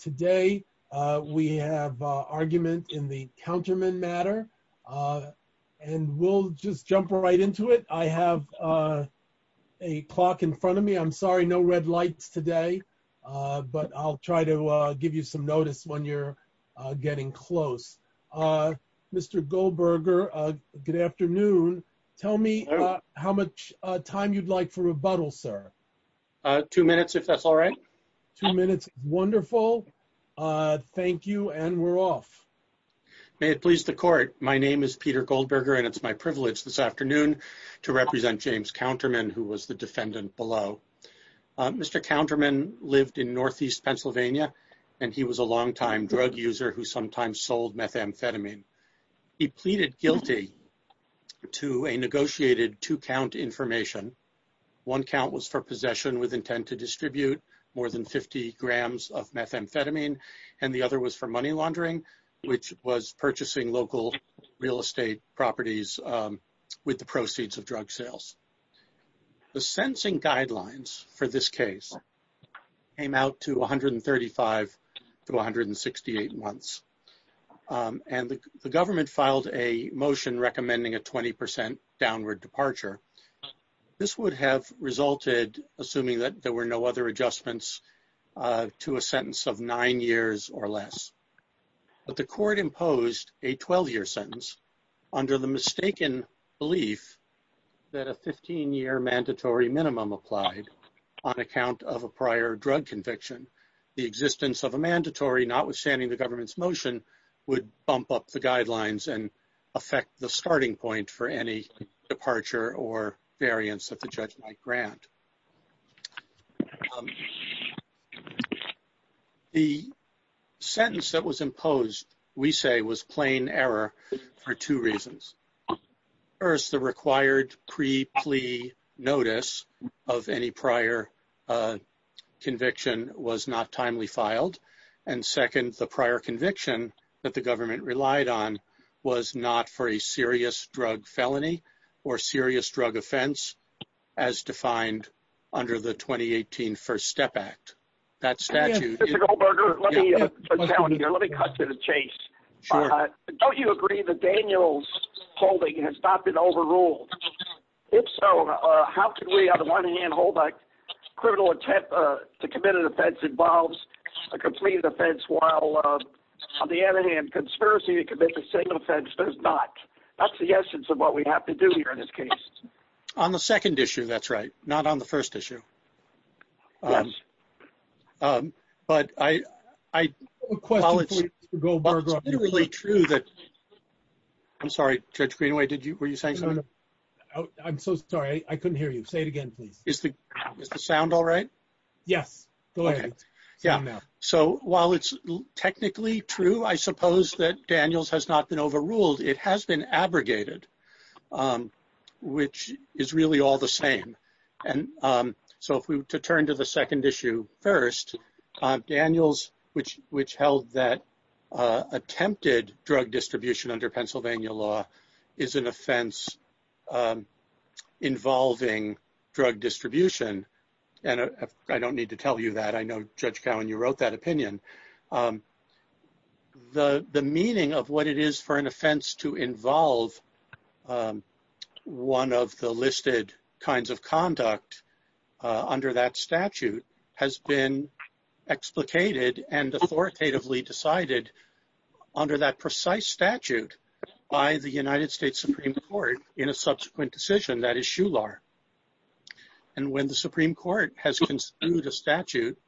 Today, we have argument in the counterman matter, and we'll just jump right into it. I have a clock in front of me. I'm sorry, no red lights today, but I'll try to give you some notice when you're getting close. Mr. Goldberger, good afternoon. Tell me how much time you'd like for rebuttal, sir. Two minutes, if that's all right. Two minutes, wonderful. Thank you, and we're off. May it please the court. My name is Peter Goldberger, and it's my privilege this afternoon to represent James Counterman, who was the defendant below. Mr. Counterman lived in Northeast Pennsylvania, and he was a longtime drug user who sometimes sold methamphetamine. He pleaded guilty to a negotiated two-count information. One count was for possession with intent to distribute more than 50 grams of methamphetamine, and the other was for money laundering, which was purchasing local real estate properties with the proceeds of drug sales. The sensing the motion recommending a 20% downward departure, this would have resulted, assuming that there were no other adjustments, to a sentence of nine years or less. But the court imposed a 12-year sentence under the mistaken belief that a 15-year mandatory minimum applied on account of a prior drug conviction. The existence of a mandatory notwithstanding the government's motion would bump up the guidelines and affect the starting point for any departure or variance that the judge might grant. The sentence that was imposed, we say, was plain error for two reasons. First, the required pre-plea notice of any prior conviction was not timely filed, and second, the prior conviction that the government relied on was not for a serious drug felony or serious drug offense as defined under the 2018 First Step Act. That statute... Mr. Goldberger, let me cut to the chase. Don't you agree that Daniel's holding has not been overruled? If so, how can we, on the one hand, hold that criminal attempt to commit an offense involves a completed offense, while on the other hand, conspiracy to commit the same offense does not? That's the essence of what we have to do here in this case. On the second issue, that's right. Not on the first issue. But I... I have a question for you, Mr. Goldberger. It's literally true that... I'm sorry, Judge Greenaway, were you saying something? I'm so sorry. I couldn't hear you. Say it again, please. Is the sound all right? Yes. Go ahead. So while it's technically true, I suppose, that Daniel's has not been overruled. It has been abrogated, which is really all the same. So to turn to the second issue first, Daniel's, which held that attempted drug distribution under Pennsylvania law is an offense involving drug distribution. And I don't need to tell you that. I know, Judge Cowen, you wrote that opinion. The meaning of what it is for an offense to involve one of the listed kinds of conduct under that statute has been explicated and authoritatively decided under that precise statute by the United States Supreme Court in a subsequent decision, that is, Shular. And when the Supreme Court has construed a statute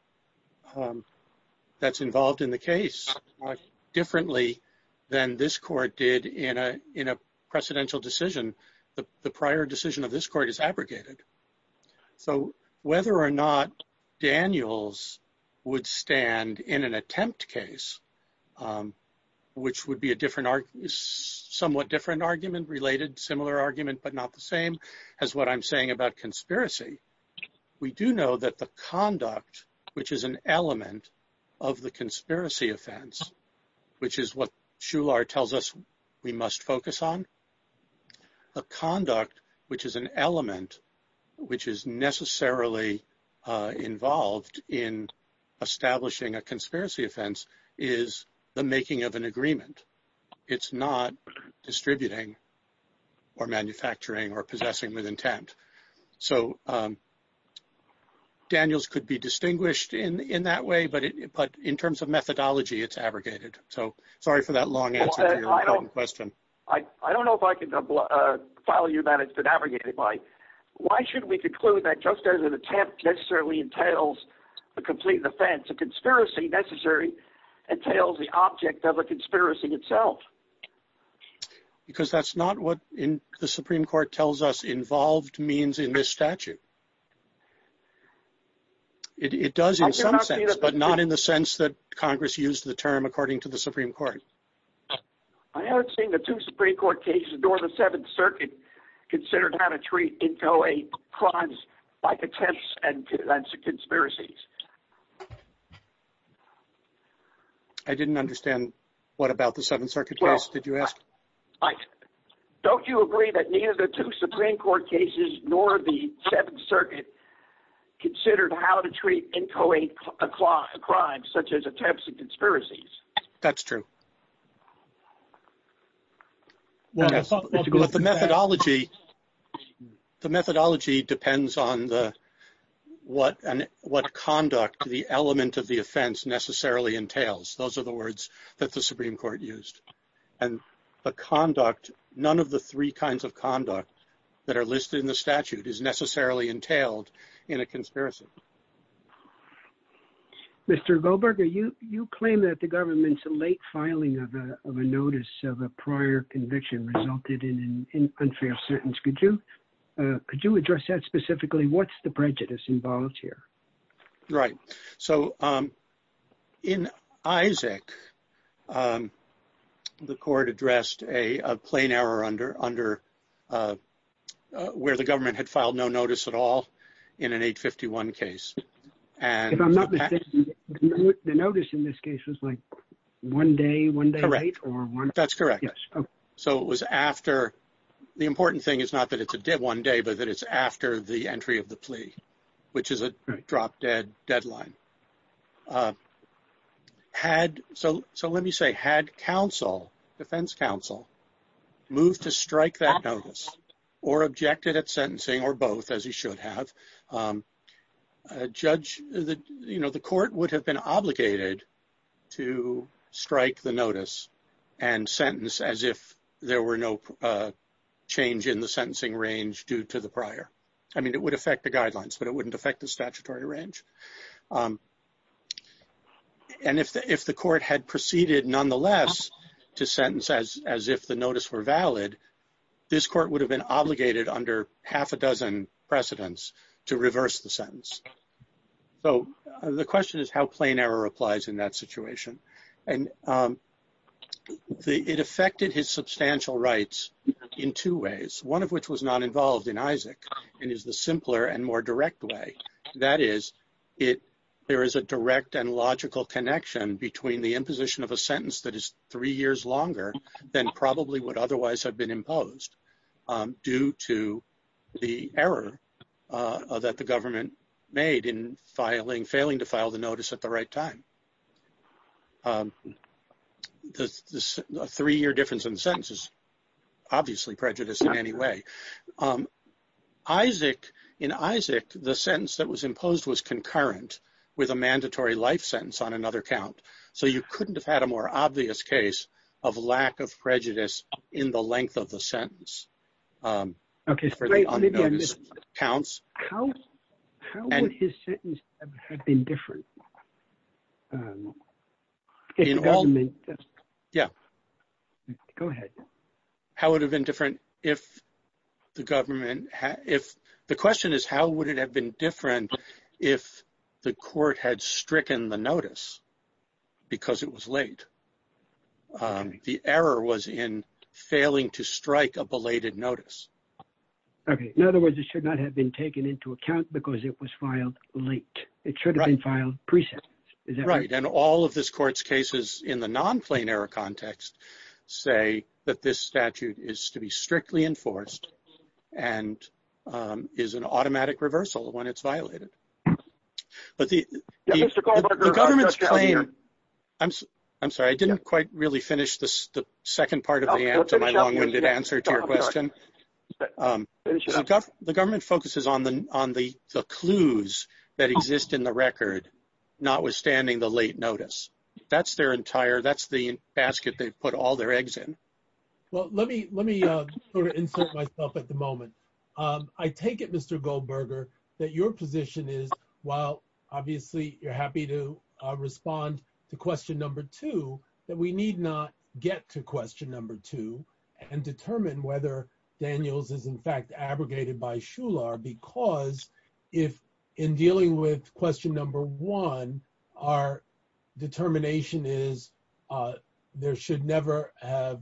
that's involved in the case differently than this court did in a precedential decision, the prior decision of this court is abrogated. So whether or not Daniel's would stand in an attempt case, which would be a somewhat different argument related, similar argument, but not the same as what I'm saying about conspiracy, we do know that the conduct, which is an element of the conduct, which is an element, which is necessarily involved in establishing a conspiracy offense, is the making of an agreement. It's not distributing or manufacturing or possessing with intent. So Daniel's could be distinguished in that way, but in terms of methodology, it's abrogated. So following that it's been abrogated by, why should we conclude that just as an attempt necessarily entails a complete offense, a conspiracy necessary entails the object of a conspiracy itself? Because that's not what the Supreme Court tells us involved means in this statute. It does in some sense, but not in the sense that Congress used the term according to the considered how to treat inchoate crimes like attempts and conspiracies. I didn't understand what about the Seventh Circuit case did you ask? Don't you agree that neither the two Supreme Court cases nor the Seventh Circuit considered how to treat inchoate crimes such as attempts and conspiracies? That's true. Well, the methodology depends on what conduct the element of the offense necessarily entails. Those are the words that the Supreme Court used. And the conduct, none of the three kinds of conduct that are listed in the statute is necessarily entailed in a conspiracy. Mr. Goldberger, you claim that the government's late filing of a notice of a prior conviction resulted in an unfair sentence. Could you address that specifically? What's the prejudice involved here? Right. So in Isaac, the court addressed a plain error under where the government had filed no notice at all in an 851 case. And the notice in this case was like one day, one day. That's correct. So it was after the important thing is not that it's a dead one day, but that it's after the entry of the plea, which is a drop dead deadline. So let me say had counsel, defense counsel, moved to strike that notice or objected at sentencing or both, as he should have, judge, you know, the court would have been obligated to strike the notice and sentence as if there were no change in the sentencing range due to the prior. I mean, it would affect the guidelines, but it wouldn't affect the statutory range. And if the court had proceeded nonetheless to sentence as if the notice were valid, this court would have been obligated under half a dozen precedents to reverse the sentence. So the question is how plain error applies in that situation. And it affected his substantial rights in two ways, one of which was not involved in Isaac, and is the simpler and more direct way. That is, there is a direct and logical connection between the imposition of a sentence that is three years longer than probably would otherwise have been imposed due to the error that the government made in failing to file the notice at the right time. The three-year difference in sentences, obviously prejudice in any way. Isaac, in Isaac, the sentence that was imposed was concurrent with a mandatory life sentence on another count. So you couldn't have had a more obvious case of lack of prejudice in the length of the sentence. Okay. Counts. How would his sentence have been different? Go ahead. The question is how would it have been different if the court had stricken the notice because it was late? The error was in failing to strike a belated notice. Okay. In other words, it should not have been taken into account because it was filed late. It should have been filed pre-sentence. Right. And all of this court's cases in the non-plain error context say that this statute is to be strictly enforced and is an automatic reversal when it's violated. But the government's claim, I'm sorry, I didn't quite really finish the second part of my long-winded answer to your question. The government focuses on the clues that exist in the record, notwithstanding the late notice. That's their entire, that's the basket they've put all their eggs in. Well, let me insert myself at the moment. I take it, Mr. Goldberger, that your position is, while obviously you're happy to respond to question number two, that we need not get to question number two and determine whether Daniels is in fact abrogated by Shular because if in dealing with question number one, our determination is there should never have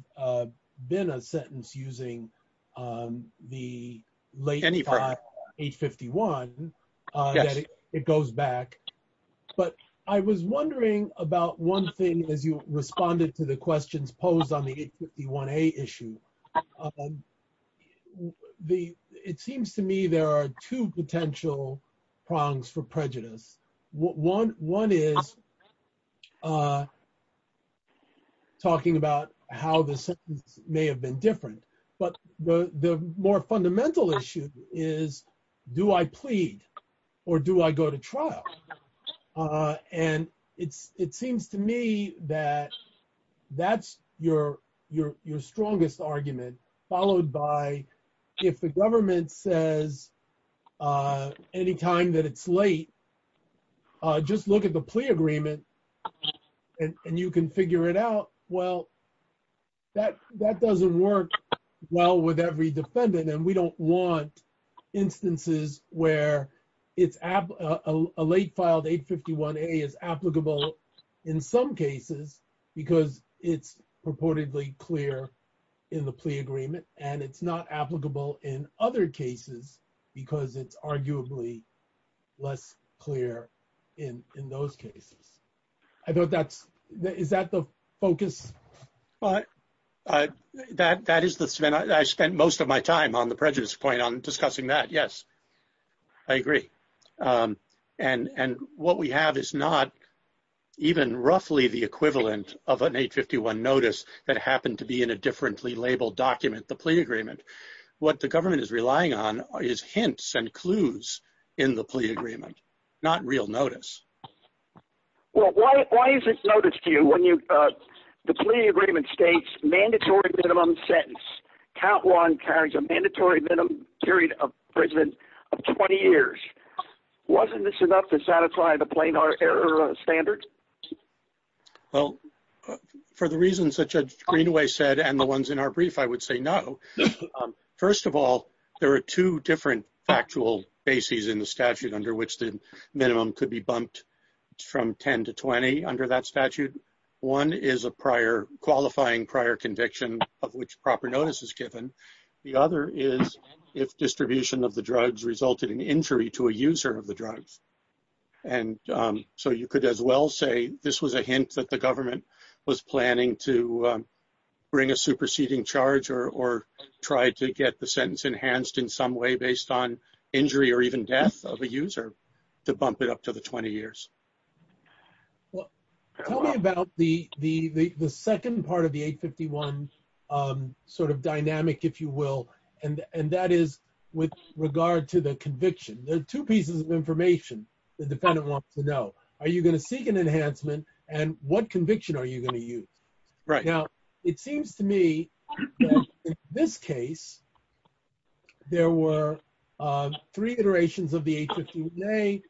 been a sentence using the late 851, it goes back. But I was wondering about one thing as you responded to the questions posed on the 851A issue. It seems to me there are two potential prongs for prejudice. One is talking about how the sentence may have been different, but the that's your strongest argument, followed by if the government says anytime that it's late, just look at the plea agreement and you can figure it out. Well, that doesn't work well with every defendant and we don't want instances where a late filed 851A is applicable in some cases because it's purportedly clear in the plea agreement and it's not applicable in other cases because it's arguably less clear in those cases. I thought that's, is that the focus? Well, that is the, I spent most of my time on the prejudice point on discussing that. Yes, I agree. And what we have is not even roughly the equivalent of an 851 notice that happened to be in a differently labeled document, the plea agreement. What the government is relying on is hints and clues in the plea agreement, not real notice. Well, why is it notice to you when the plea agreement states mandatory minimum sentence, count one carries a mandatory minimum period of prison of 20 years. Wasn't this enough to satisfy the plain hard error standard? Well, for the reasons that Judge Greenaway said, and the ones in our brief, I would say no. First of all, there are two different factual bases in the statute under which the minimum could be bumped from 10 to 20 under that statute. One is a prior qualifying prior conviction of which proper notice is given. The other is if distribution of the drugs resulted in injury to a user of the drugs. And so you could as well say, this was a hint that the government was planning to bring a superseding charge or try to get the sentence enhanced in some way based on injury or even death of a user to bump it up to the 20 years. Well, tell me about the second part of the 851 sort of dynamic, if you will. And that is with regard to the conviction. There are two pieces of information the defendant wants to know. Are you going to seek an enhancement and what conviction are you going to use? Right now, it seems to me that in this case, there were three iterations of the 851A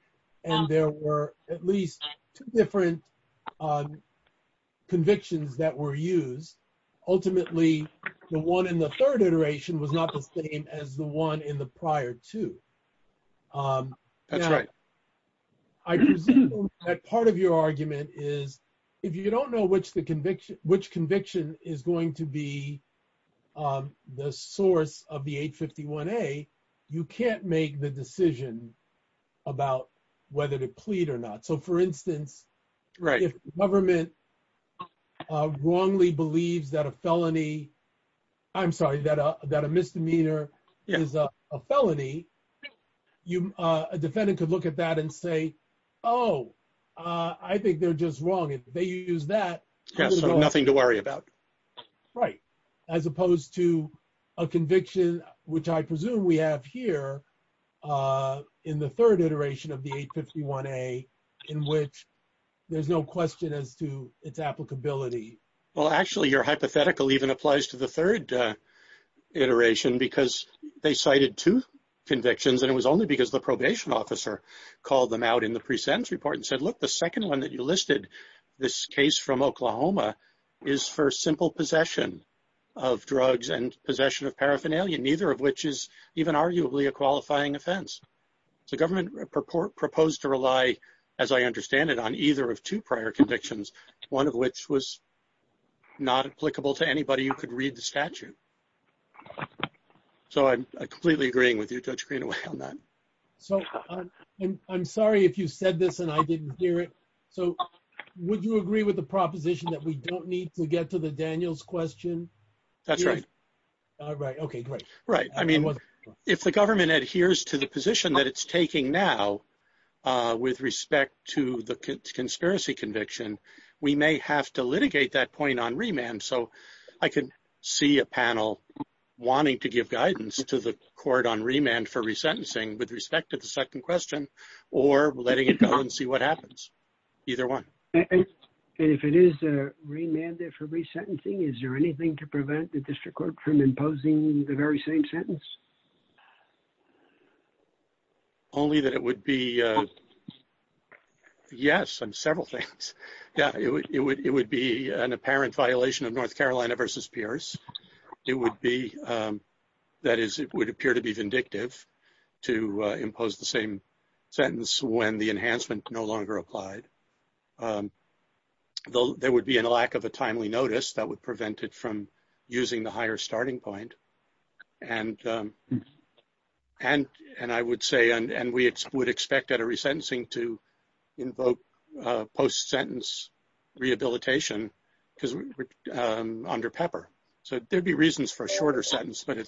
and there were at least two different convictions that were used. Ultimately, the one in the third iteration was not the same as the one in the prior two. That's right. I presume that part of your argument is, if you don't know which conviction is going to be on the source of the 851A, you can't make the decision about whether to plead or not. So for instance, if the government wrongly believes that a felony, I'm sorry, that a misdemeanor is a felony, a defendant could look at that and say, oh, I think they're just wrong. If they use that, there's nothing to worry about. Right. As opposed to a conviction, which I presume we have here in the third iteration of the 851A in which there's no question as to its applicability. Well, actually, your hypothetical even applies to the third iteration because they cited two convictions and it was only because the probation officer called them out in the pre-sentence report and said, look, the second one that you listed, this case from Oklahoma, is for simple possession of drugs and possession of paraphernalia, neither of which is even arguably a qualifying offense. The government proposed to rely, as I understand it, on either of two prior convictions, one of which was not applicable to anybody who could read the statute. So I'm completely agreeing with you, Judge Greenaway, on that. So I'm sorry if you said this and I didn't hear it. So would you agree with the proposition that we don't need to get to the Daniels question? That's right. Right. Okay, great. Right. I mean, if the government adheres to the position that it's taking now with respect to the conspiracy conviction, we may have to litigate that point on remand. So I could see a panel wanting to give guidance to the court on remand for resentencing with respect to the second question or letting it go and see what happens. Either one. And if it is a remand for resentencing, is there anything to prevent the district court from imposing the very same sentence? Only that it would be, yes, on several things. Yeah, it would be an apparent violation of North B. That is, it would appear to be vindictive to impose the same sentence when the enhancement no longer applied. There would be a lack of a timely notice that would prevent it from using the higher starting point. And I would say, and we would expect at a resentencing to post-sentence rehabilitation under PEPR. So there'd be reasons for a shorter sentence, but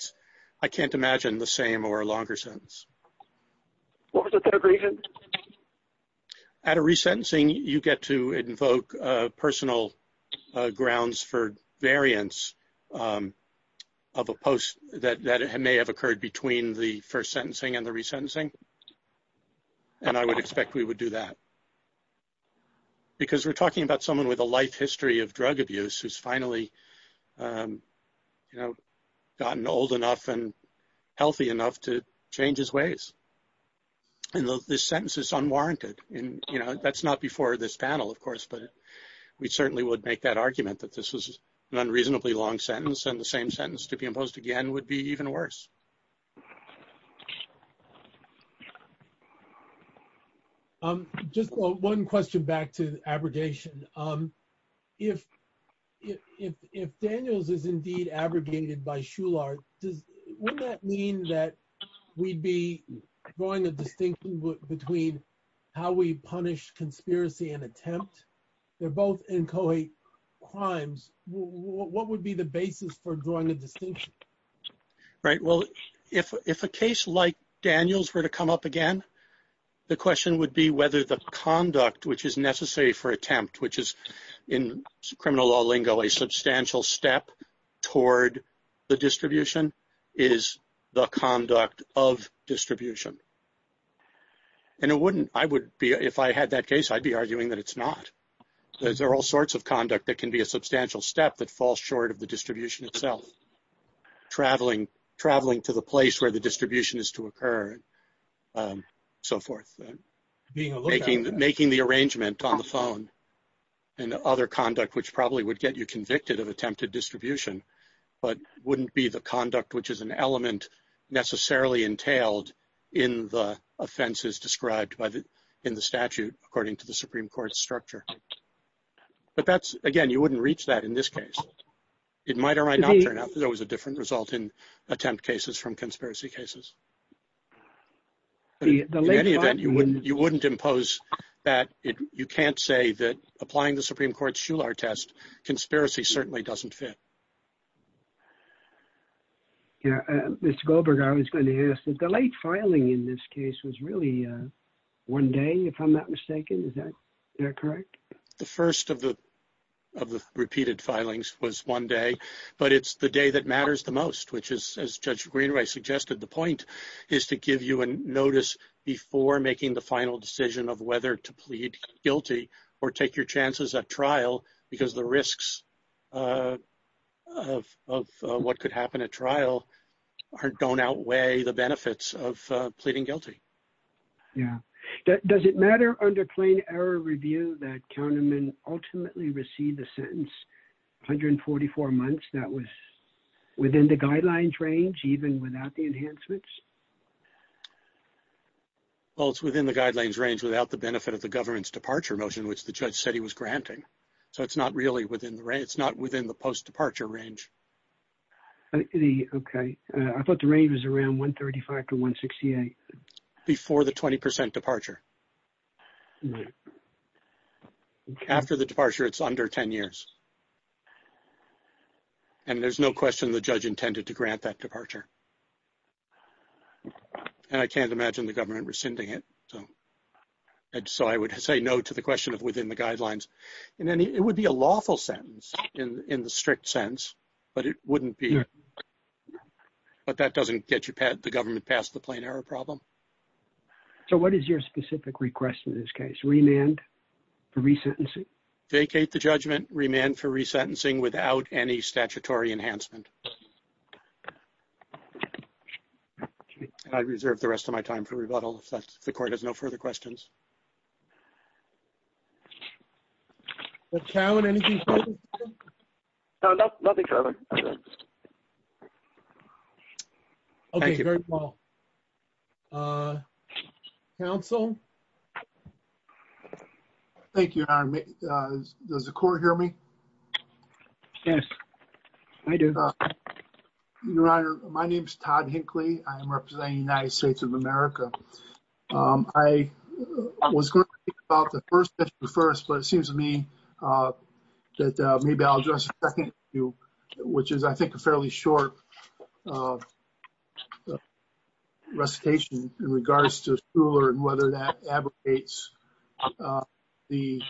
I can't imagine the same or a longer sentence. What was the third reason? At a resentencing, you get to invoke personal grounds for variance of a post that may have occurred between the first sentencing and the resentencing. And I would expect we would do that. Because we're talking about someone with a life history of drug abuse who's finally gotten old enough and healthy enough to change his ways. And this sentence is unwarranted. That's not before this panel, of course, but we certainly would make that argument that this was an unreasonably long sentence and the same sentence to be imposed again would be even worse. Just one question back to abrogation. If Daniels is indeed abrogated by Shular, does that mean that we'd be drawing a distinction between how we punish conspiracy and attempt? They're both inchoate crimes. What would be the basis for drawing a distinction? Right. Well, if a case like Daniels were to come up again, the question would be whether the conduct which is necessary for attempt, which is in criminal law lingo, a substantial step toward the distribution, is the conduct of distribution. And if I had that case, I'd be arguing that it's not. There are all sorts of conduct that can be a substantial step that traveling to the place where the distribution is to occur and so forth. Making the arrangement on the phone and other conduct, which probably would get you convicted of attempted distribution, but wouldn't be the conduct which is an element necessarily entailed in the offenses described in the statute according to the Supreme Court structure. But that's again, you wouldn't reach that in this case. It might or might not turn out that there was a different result in attempt cases from conspiracy cases. In any event, you wouldn't impose that. You can't say that applying the Supreme Court's Shular test, conspiracy certainly doesn't fit. Mr. Goldberg, I was going to ask, the late filing in this case was really one day, if I'm not mistaken. Is that correct? The first of the repeated filings was one day, but it's the day that matters the most, which is as Judge Greenway suggested. The point is to give you a notice before making the final decision of whether to plead guilty or take your chances at trial because the risks of what could happen at trial don't outweigh the benefits of pleading guilty. Yeah. Does it matter under error review that counterman ultimately received the sentence 144 months that was within the guidelines range even without the enhancements? Well, it's within the guidelines range without the benefit of the government's departure motion, which the judge said he was granting. So it's not really within the range. It's not within the post departure range. Okay. I thought the range was around 135 to 168. Before the 20% departure. After the departure, it's under 10 years. And there's no question the judge intended to grant that departure. And I can't imagine the government rescinding it. So I would say no to the question of within the guidelines. And then it would be a lawful sentence in the strict sense, but it wouldn't be. But that doesn't get you the government past the plain error problem. So what is your specific request in this case? Remand for resentencing? Decate the judgment, remand for resentencing without any statutory enhancement. I reserve the rest of my time for rebuttal if the court has no further questions. Thank you, Your Honor. Does the court hear me? Yes, I do. Your Honor, my name is Todd Hinckley. I'm representing the United States of America. I was going to speak about the first issue first, but it seems to me that maybe I'll address the second issue, which is, I think, a fairly short recitation in regards to Shuler and whether that advocates the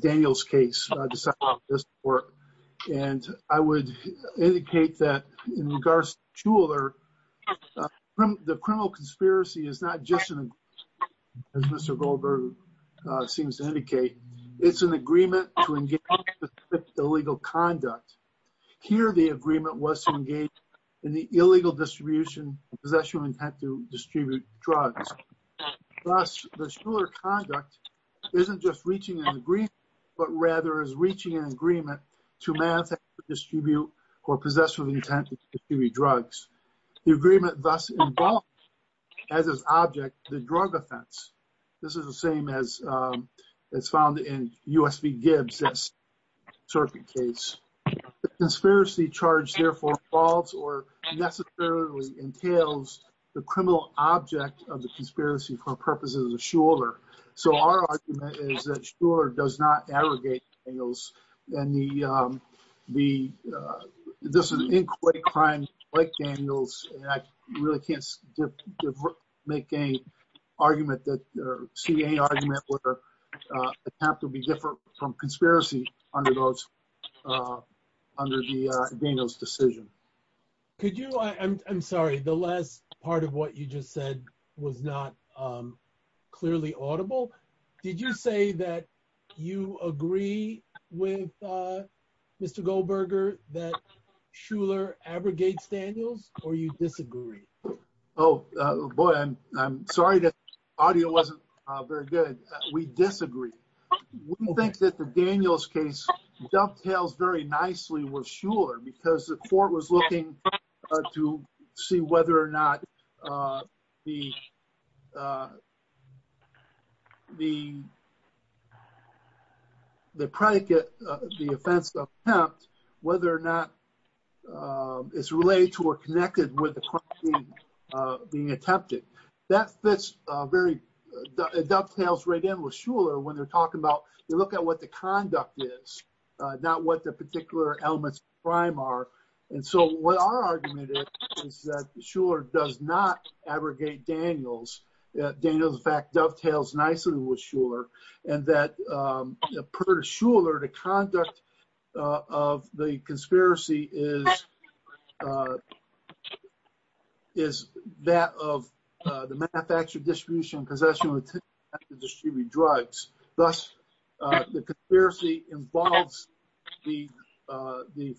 Daniels case. And I would indicate that in regards to Shuler, the criminal conspiracy is not just, as Mr. Goldberg seems to indicate, it's an agreement to engage in illegal conduct. Here, the agreement was to engage in the illegal distribution of possession and had to distribute drugs. Thus, the Shuler conduct isn't just reaching an agreement, but rather is reaching an agreement to manage, distribute, or possess with intent to distribute drugs. The agreement thus involves, as its object, the drug offense. This is the same as it's found in U.S. v. Gibbs, this circuit case. The conspiracy charge, therefore, involves or necessarily entails the criminal object of the conspiracy for purposes of Shuler. So our argument is that Shuler does not aggregate Daniels. This is an inquiry crime like Daniels, and I really can't make any argument or see any argument or attempt to be different from conspiracy under Daniels' decision. Could you, I'm sorry, the last part of what you just said was not clearly audible. Did you say that you agree with Mr. Goldberger that Shuler abrogates Daniels or you disagree? Oh, boy, I'm sorry that audio wasn't very good. We disagree. We think that the Daniels case dovetails very nicely with Shuler because the court was looking to see whether or not the predicate, the offense attempt, whether or not it's related to or connected with the crime being attempted. That fits very, it dovetails right in with Shuler when they're talking about, they look at what the conduct is, not what the particular elements of the crime are. And so what our argument is that Shuler does not abrogate Daniels. Daniels, in fact, dovetails nicely with Shuler and that per Shuler, the conduct of the conspiracy is that of the manufacturer distribution and possession of the distributed drugs. Thus, the conspiracy involves the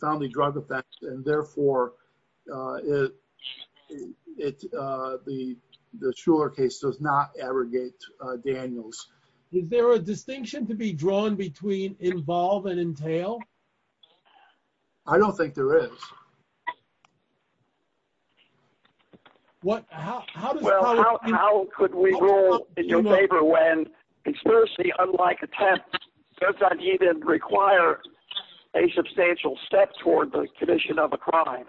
family drug effect and therefore the Shuler case does not abrogate Daniels. Is there a distinction to be drawn between involve and entail? I don't think there is. What, how, how could we rule in your favor when conspiracy, unlike attempt, does not even require a substantial step toward the condition of a crime?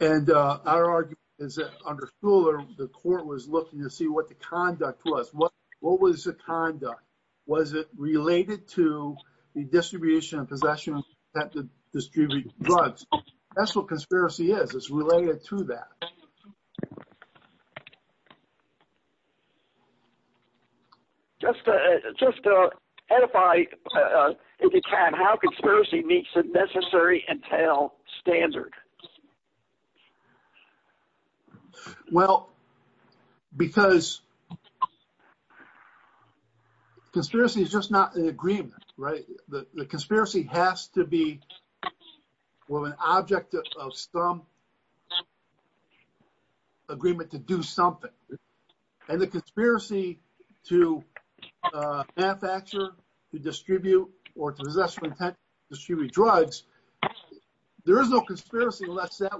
And our argument is that under Shuler, the court was looking to see what the conduct was. What was the conduct? Was it related to the distribution of possession of the distributed drugs? That's what conspiracy is. It's related to that. Just to, just to edify, if you can, how conspiracy meets the necessary entail standard. Well, because conspiracy is just not an agreement, right? The conspiracy has to be with an object of some agreement to do something. And the conspiracy to manufacture, to distribute, or to possess that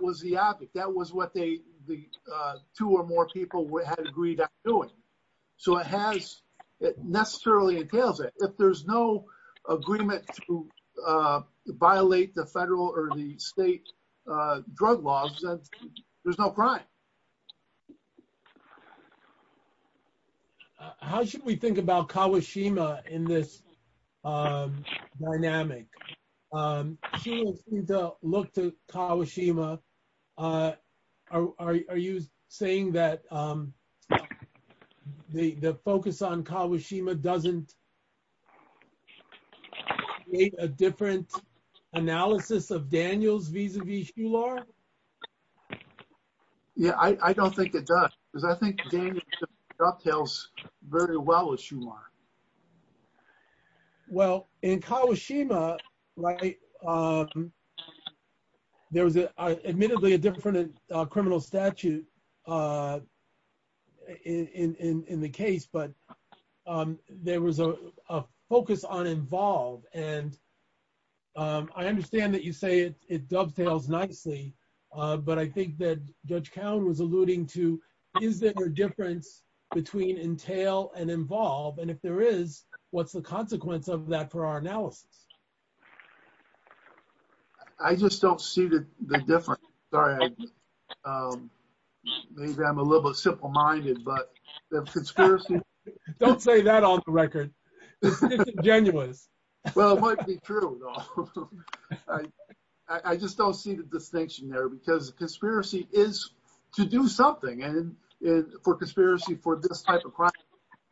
was the object. That was what they, the two or more people had agreed on doing. So it has, it necessarily entails it. If there's no agreement to violate the federal or the state drug laws, there's no crime. How should we think about Kawashima in this dynamic? Shuler seemed to look to Kawashima. Are you saying that the focus on Kawashima doesn't create a different analysis of Daniels vis-a-vis Shuler? Yeah, I don't think it does. Because I think Daniels dovetails very well with Shuler. Well, in Kawashima, right, there was admittedly a different criminal statute in the case, but there was a focus on involve. And I understand that you say it dovetails nicely. But I think that Judge Cowen was alluding to, is there a difference between entail and involve? And if there is, what's the consequence of that for our analysis? I just don't see the difference. Sorry, maybe I'm a little bit simple-minded. Don't say that on the record. It's disingenuous. Well, it might be true, though. I just don't see the distinction there. Because the conspiracy is to do something for conspiracy for this type of crime,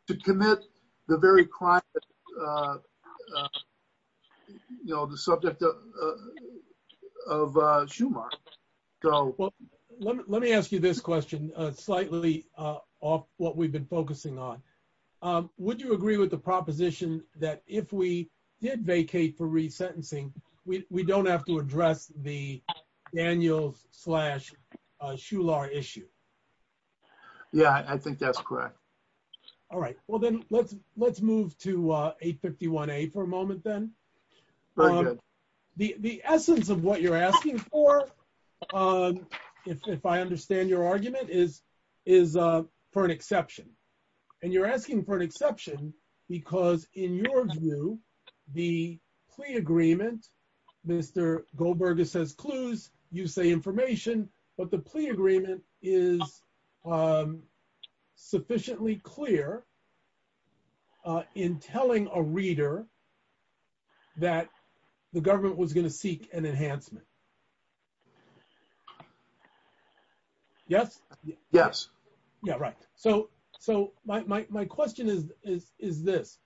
to commit the very crime, you know, the subject of Schumacher. Well, let me ask you this question, slightly off what we've been focusing on. Would you agree with the proposition that if we did vacate for resentencing, we don't have to address the issue? Yeah, I think that's correct. All right. Well, then let's move to 851A for a moment, then. The essence of what you're asking for, if I understand your argument, is for an exception. And you're asking for an exception, because in your view, the plea agreement, Mr. Goldberger says clues, you say information, but the plea agreement is sufficiently clear in telling a reader that the government was going to seek an enhancement. Yes? Yes. Yeah, right. So my question is this.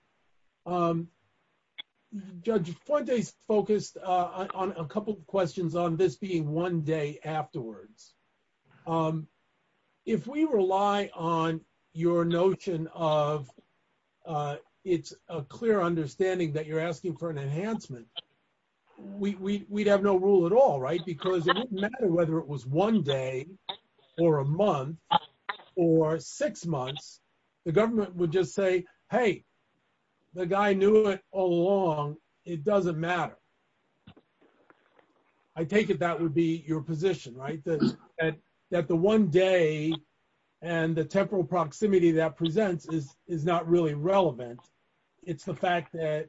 Judge Fuentes focused on a couple of questions on this being one day afterwards. If we rely on your notion of it's a clear understanding that you're asking for an enhancement, we'd have no rule at all, right? Because it doesn't matter whether it was one day, or a month, or six months, the government would just say, hey, the guy knew it all along, it doesn't matter. I take it that would be your position, right? That the one day and the temporal proximity that presents is not really relevant. It's the fact that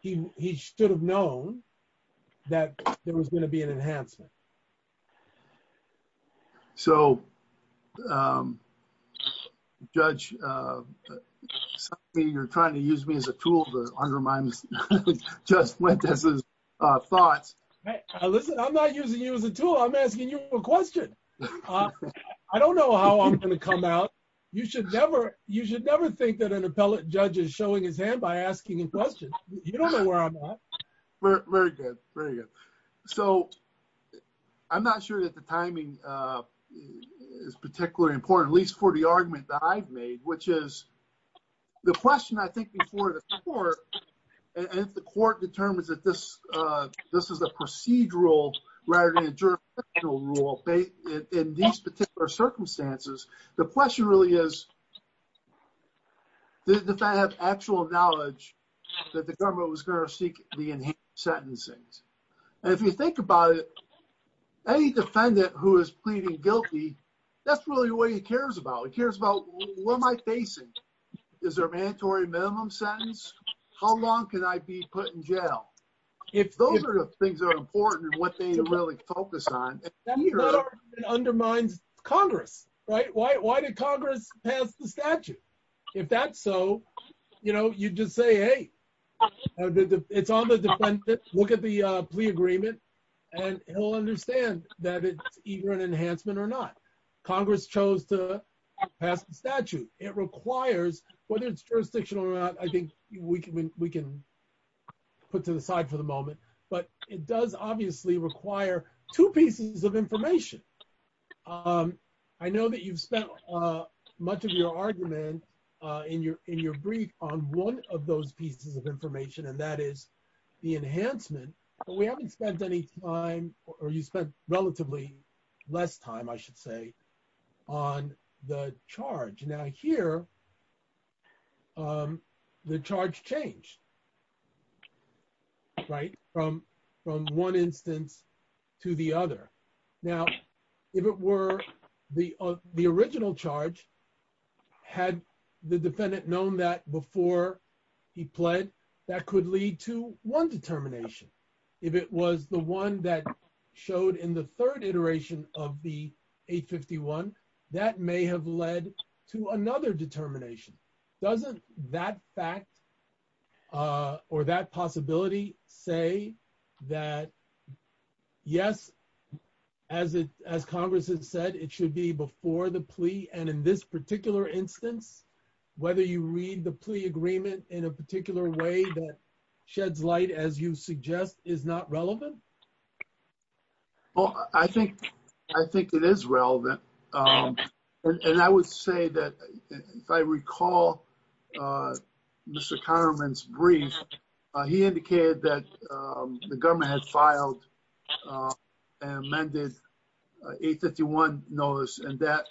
he should have known that there was going to be an enhancement. So, Judge, you're trying to use me as a tool to undermine Judge Fuentes' thoughts. Listen, I'm not using you as a tool. I'm asking you a question. I don't know how I'm going to come out. You should never think that an appellate judge is showing his hand by asking a question. You don't know where I'm at. Very good, very good. So, I'm not sure that the timing is particularly important, at least for the argument that I've made, which is the question I think before the court, and if the court determines that this is a procedural rather than a jurisdictional rule in these particular circumstances, the question really is does the defendant have actual knowledge that the government was going to seek the enhanced sentencing? And if you think about it, any defendant who is pleading guilty, that's really what he cares about. He cares about what am I facing? Is there a mandatory minimum sentence? How long can I be put in jail? If those are the things that are important and what they focus on. That undermines Congress, right? Why did Congress pass the statute? If that's so, you know, you just say, hey, it's on the defendant. Look at the plea agreement and he'll understand that it's either an enhancement or not. Congress chose to pass the statute. It requires, whether it's jurisdictional or not, I think we can put to the side for the moment, but it does obviously require two pieces of information. I know that you've spent much of your argument in your brief on one of those pieces of information, and that is the enhancement, but we haven't spent any time, or you spent relatively less time, I should say, on the charge change, right? From one instance to the other. Now, if it were the original charge, had the defendant known that before he pled, that could lead to one determination. If it was the one that showed in the third iteration of the 851, that may have led to another determination. Doesn't that fact or that possibility say that, yes, as Congress has said, it should be before the plea, and in this particular instance, whether you read the plea agreement in a particular way that sheds light, as you suggest, is not relevant? Well, I think it is relevant, and I would say that, if I recall Mr. Kahneman's brief, he indicated that the government had filed and amended 851 notice, and that,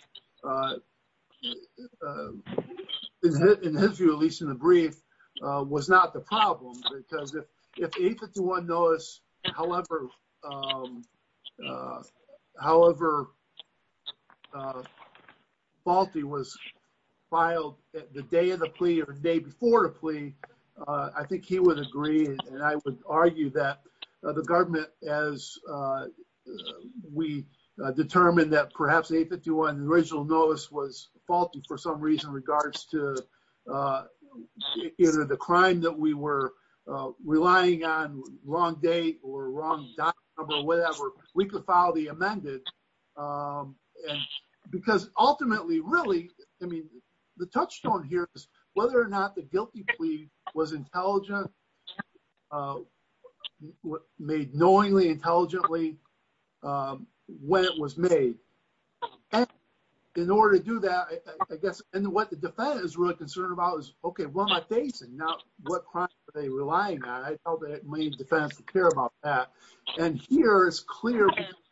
in his view, at least in the brief, was not the problem, because if 851 notice, however faulty was filed the day of the plea or the day before the plea, I think he would agree, and I would argue that the government, as we determined that perhaps 851 original notice was either the crime that we were relying on, wrong date or wrong document or whatever, we could file the amended, because ultimately, really, I mean, the touchstone here is whether or not the guilty plea was intelligent, made knowingly intelligently when it was made, and in order to do that, I guess, and what the defense is really concerned about is, okay, what am I facing? Now, what crimes are they relying on? I felt that it made the defense to care about that, and here, it's clear,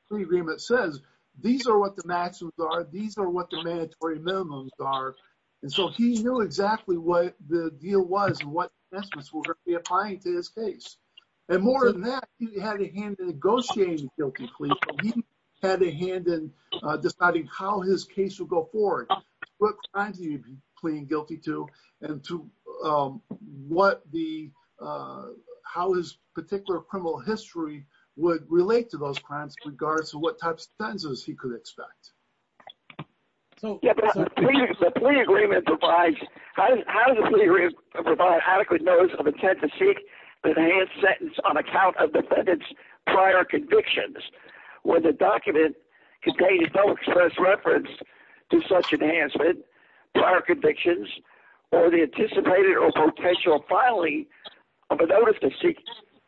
the agreement says, these are what the maximums are, these are what the mandatory minimums are, and so he knew exactly what the deal was and what estimates were going to be applying to his case, and more than that, he had a hand in negotiating guilty plea, so he had a hand in deciding how his case would go forward, what crimes he would be pleading guilty to, and to what the, how his particular criminal history would relate to those crimes in regards to what types of sentences he could expect. The plea agreement provides, how does the plea agreement provide adequate notes of intent to where the document contains no express reference to such enhancement, prior convictions, or the anticipated or potential filing of a notice to seek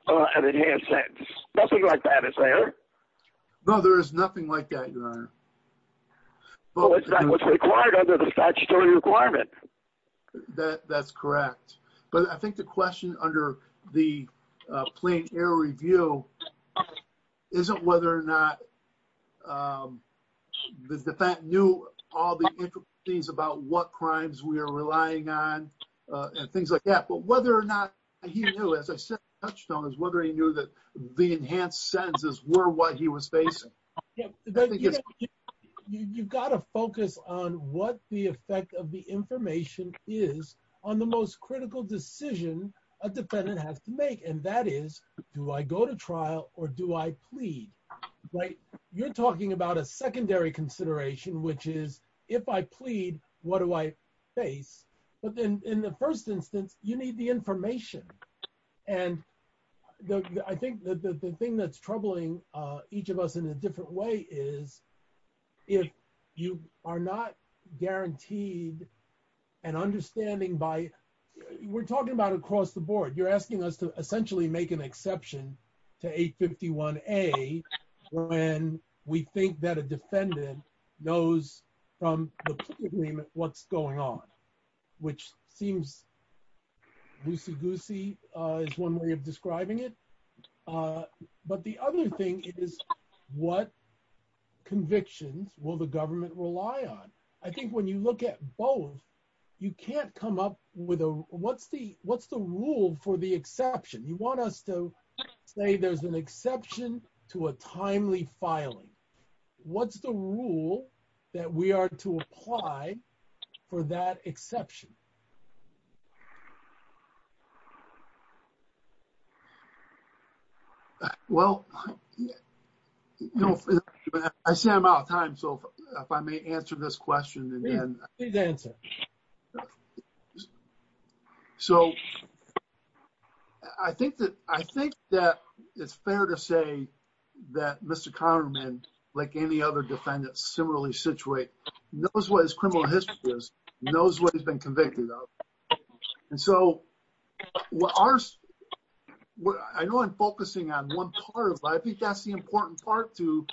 an enhanced sentence? Nothing like that is there. No, there is nothing like that, your honor. Well, it's not what's required under the statutory requirement. That's correct, but I think the question under the plain error review isn't whether or not the defense knew all the intricacies about what crimes we are relying on, and things like that, but whether or not he knew, as I said in the touchstone, is whether he knew that the enhanced sentences were what he was facing. Yeah, you've got to focus on what the effect of the information is on the most critical decision a defendant has to make, and that is, do I go to trial or do I plead, right? You're talking about a secondary consideration, which is, if I plead, what do I face? But then in the first instance, you need the information, and I think that the thing that's troubling each of us in a different way is if you are not guaranteed an understanding by, we're talking about across the board, you're asking us to essentially make an exception to 851A when we think that a defendant knows from the plea agreement what's going on, which seems loosey-goosey is one way of describing it, but the other thing is what convictions will the government rely on? I think when you look at both, you can't come up with a, what's the rule for the exception? You want us to say there's an exception to a timely filing. What's the rule that we are to apply for that exception? Well, you know, I see I'm out of time, so if I may answer this question, and then... Please answer. So, I think that it's fair to say that Mr. Conerman, like any other defendant, similarly situate, knows what his criminal history is, knows what he's been convicted of, and so what ours, I know I'm focusing on one part, but I think that's the important part to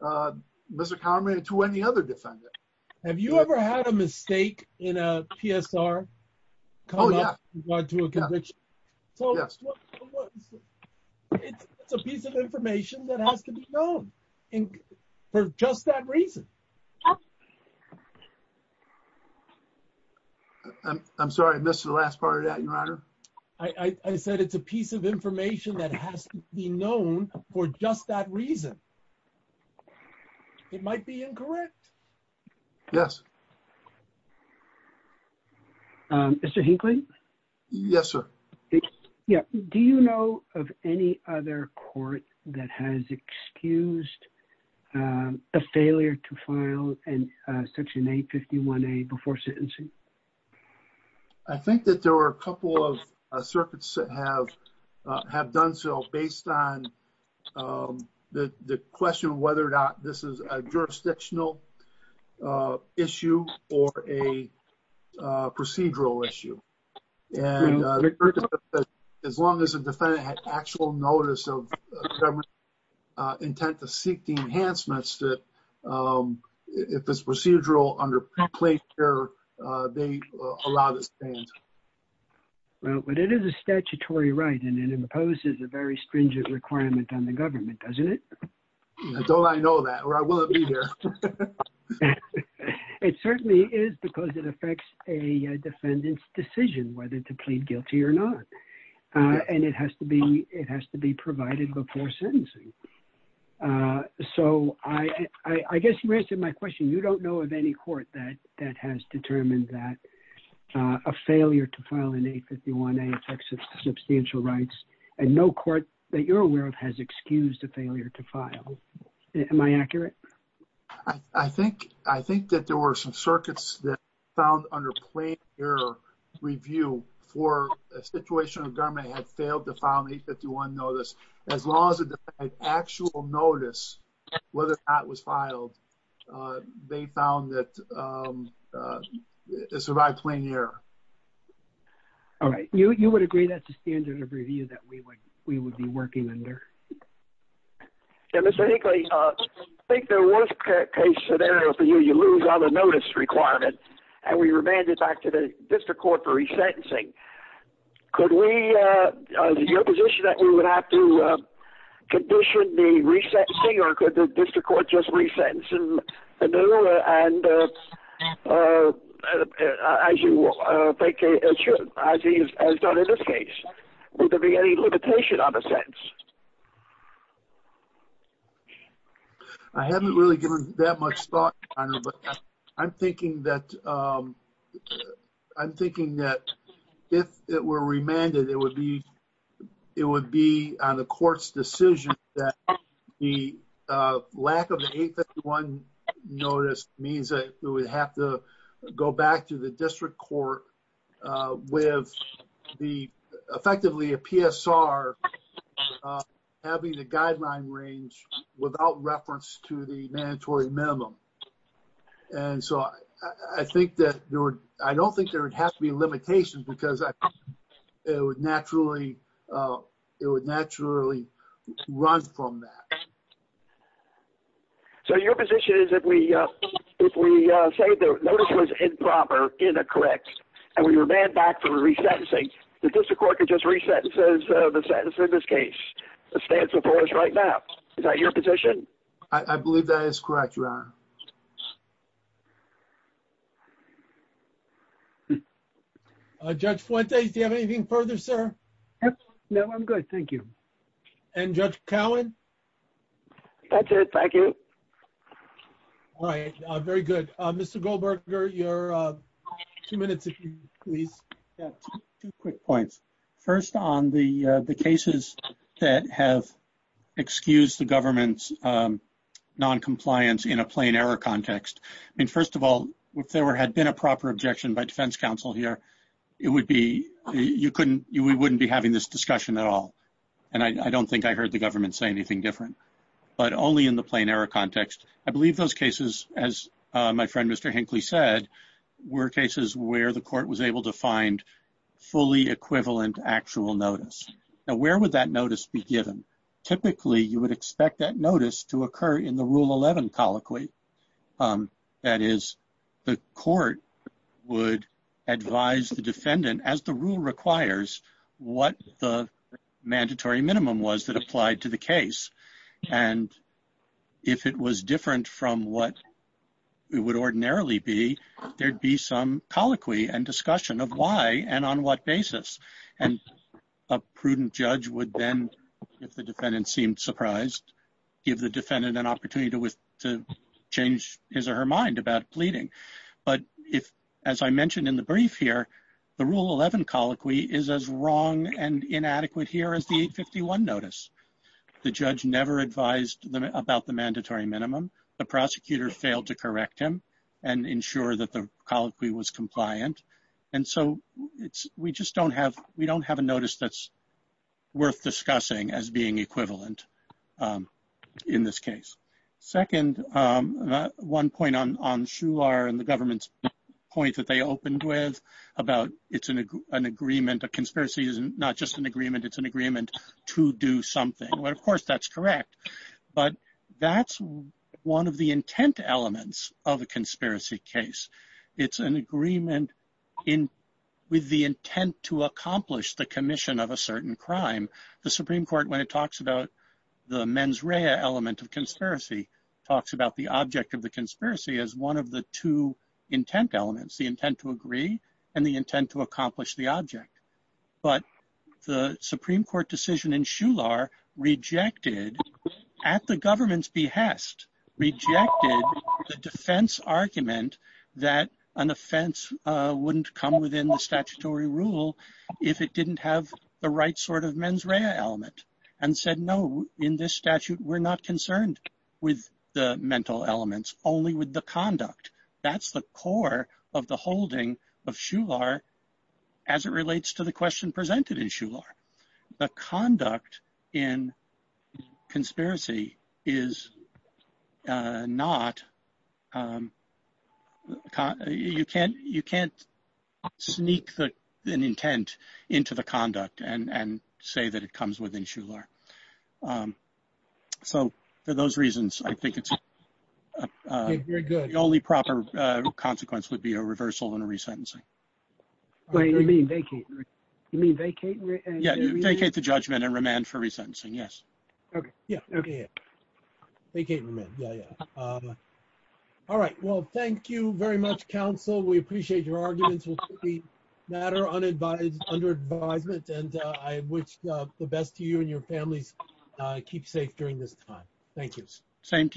Mr. Conerman and to any other defendant. Have you ever had a mistake in a PSR? Oh, yeah. In regard to a conviction? Yes. It's a piece of information that has to be known for just that reason. I'm sorry, I missed the last part of that, Your Honor. I said it's a piece of information that has to be known for just that reason. It might be incorrect. Yes. Mr. Hinckley? Yes, sir. Yeah, do you know of any other court that has excused a failure to file a PSR? And section 851A before sentencing? I think that there were a couple of circuits that have done so based on the question of whether or not this is a jurisdictional issue or a procedural issue. As long as the defendant had actual notice of government intent to seek the enhancements that if it's procedural under pre-placed care, they allow this stance. But it is a statutory right and it imposes a very stringent requirement on the government, doesn't it? Don't I know that, or will it be there? It certainly is because it affects a defendant's decision whether to plead guilty or not. And it has to be provided before sentencing. So I guess you answered my question. You don't know of any court that has determined that a failure to file in 851A affects its substantial rights and no court that you're aware of has excused a failure to file. Am I accurate? I think that there were some circuits that found under plain error review for a situation government had failed to file an 851 notice. As long as the actual notice, whether or not it was filed, they found that it survived plain error. All right, you would agree that's the standard of review that we would be working under? Yeah, Mr. Hinckley, I think there was a case scenario for you, you lose all the notice requirements and we remanded back to the district court for resentencing. Could we, is it your position that we would have to condition the resentencing or could the district court just resentence him and as he has done in this case? Would there be any limitation on the sentence? I haven't really given that much thought on it, but I'm thinking that if it were remanded, it would be on the court's decision that the lack of the 851 notice means that we would have to go back to the district court with effectively a PSR having the guideline range without reference to the mandatory minimum. And so I don't think there would have to be a limitation because it would naturally run from that. So your position is that if we say the notice was improper, incorrect, and we remand back for resentencing, the district court could just resentence the sentence in this case that stands before us right now. Is that your position? I believe that is correct, Your Honor. Judge Fuente, do you have anything further, sir? No, I'm good. Thank you. And Judge Cowan? That's it. Thank you. All right. Very good. Mr. Goldberger, your two minutes, if you please. Two quick points. First on the cases that have excused the government's noncompliance in a plain error context. I mean, first of all, if there had been a proper objection by defense counsel here, we wouldn't be having this discussion at all. And I don't think I heard the government say anything different, but only in the plain error context. I believe those cases, as my fully equivalent actual notice. Now, where would that notice be given? Typically, you would expect that notice to occur in the Rule 11 colloquy. That is, the court would advise the defendant, as the rule requires, what the mandatory minimum was that applied to the case. And if it was different from what it would ordinarily be, there'd be some colloquy and discussion of why and on what basis. And a prudent judge would then, if the defendant seemed surprised, give the defendant an opportunity to change his or her mind about pleading. But if, as I mentioned in the brief here, the Rule 11 colloquy is as wrong and inadequate here as the 851 notice. The judge never advised about the mandatory minimum. The colloquy was compliant. And so, we just don't have a notice that's worth discussing as being equivalent in this case. Second, one point on Shular and the government's point that they opened with about it's an agreement, a conspiracy is not just an agreement, it's an agreement to do something. Well, of course, that's correct. But that's one of the intent elements of a conspiracy. It's an agreement with the intent to accomplish the commission of a certain crime. The Supreme Court, when it talks about the mens rea element of conspiracy, talks about the object of the conspiracy as one of the two intent elements, the intent to agree and the intent to accomplish the object. But the Supreme Court decision in Shular rejected, at the government's test, rejected the defense argument that an offense wouldn't come within the statutory rule if it didn't have the right sort of mens rea element and said, no, in this statute, we're not concerned with the mental elements, only with the conduct. That's the core of the holding of Shular as it relates to the question presented in Shular. The conduct in conspiracy is not, you can't sneak an intent into the conduct and say that it comes within Shular. So for those reasons, I think the only proper consequence would be a reversal and a resentencing. Wait, you mean vacate? You mean vacate? Yeah, vacate the judgment and remand for resentencing, yes. Yeah, vacate and remand. Yeah, yeah. All right. Well, thank you very much, counsel. We appreciate your arguments. We'll take the matter under advisement and I wish the best to you and your families. Keep safe during this time. Thank you. Thank you.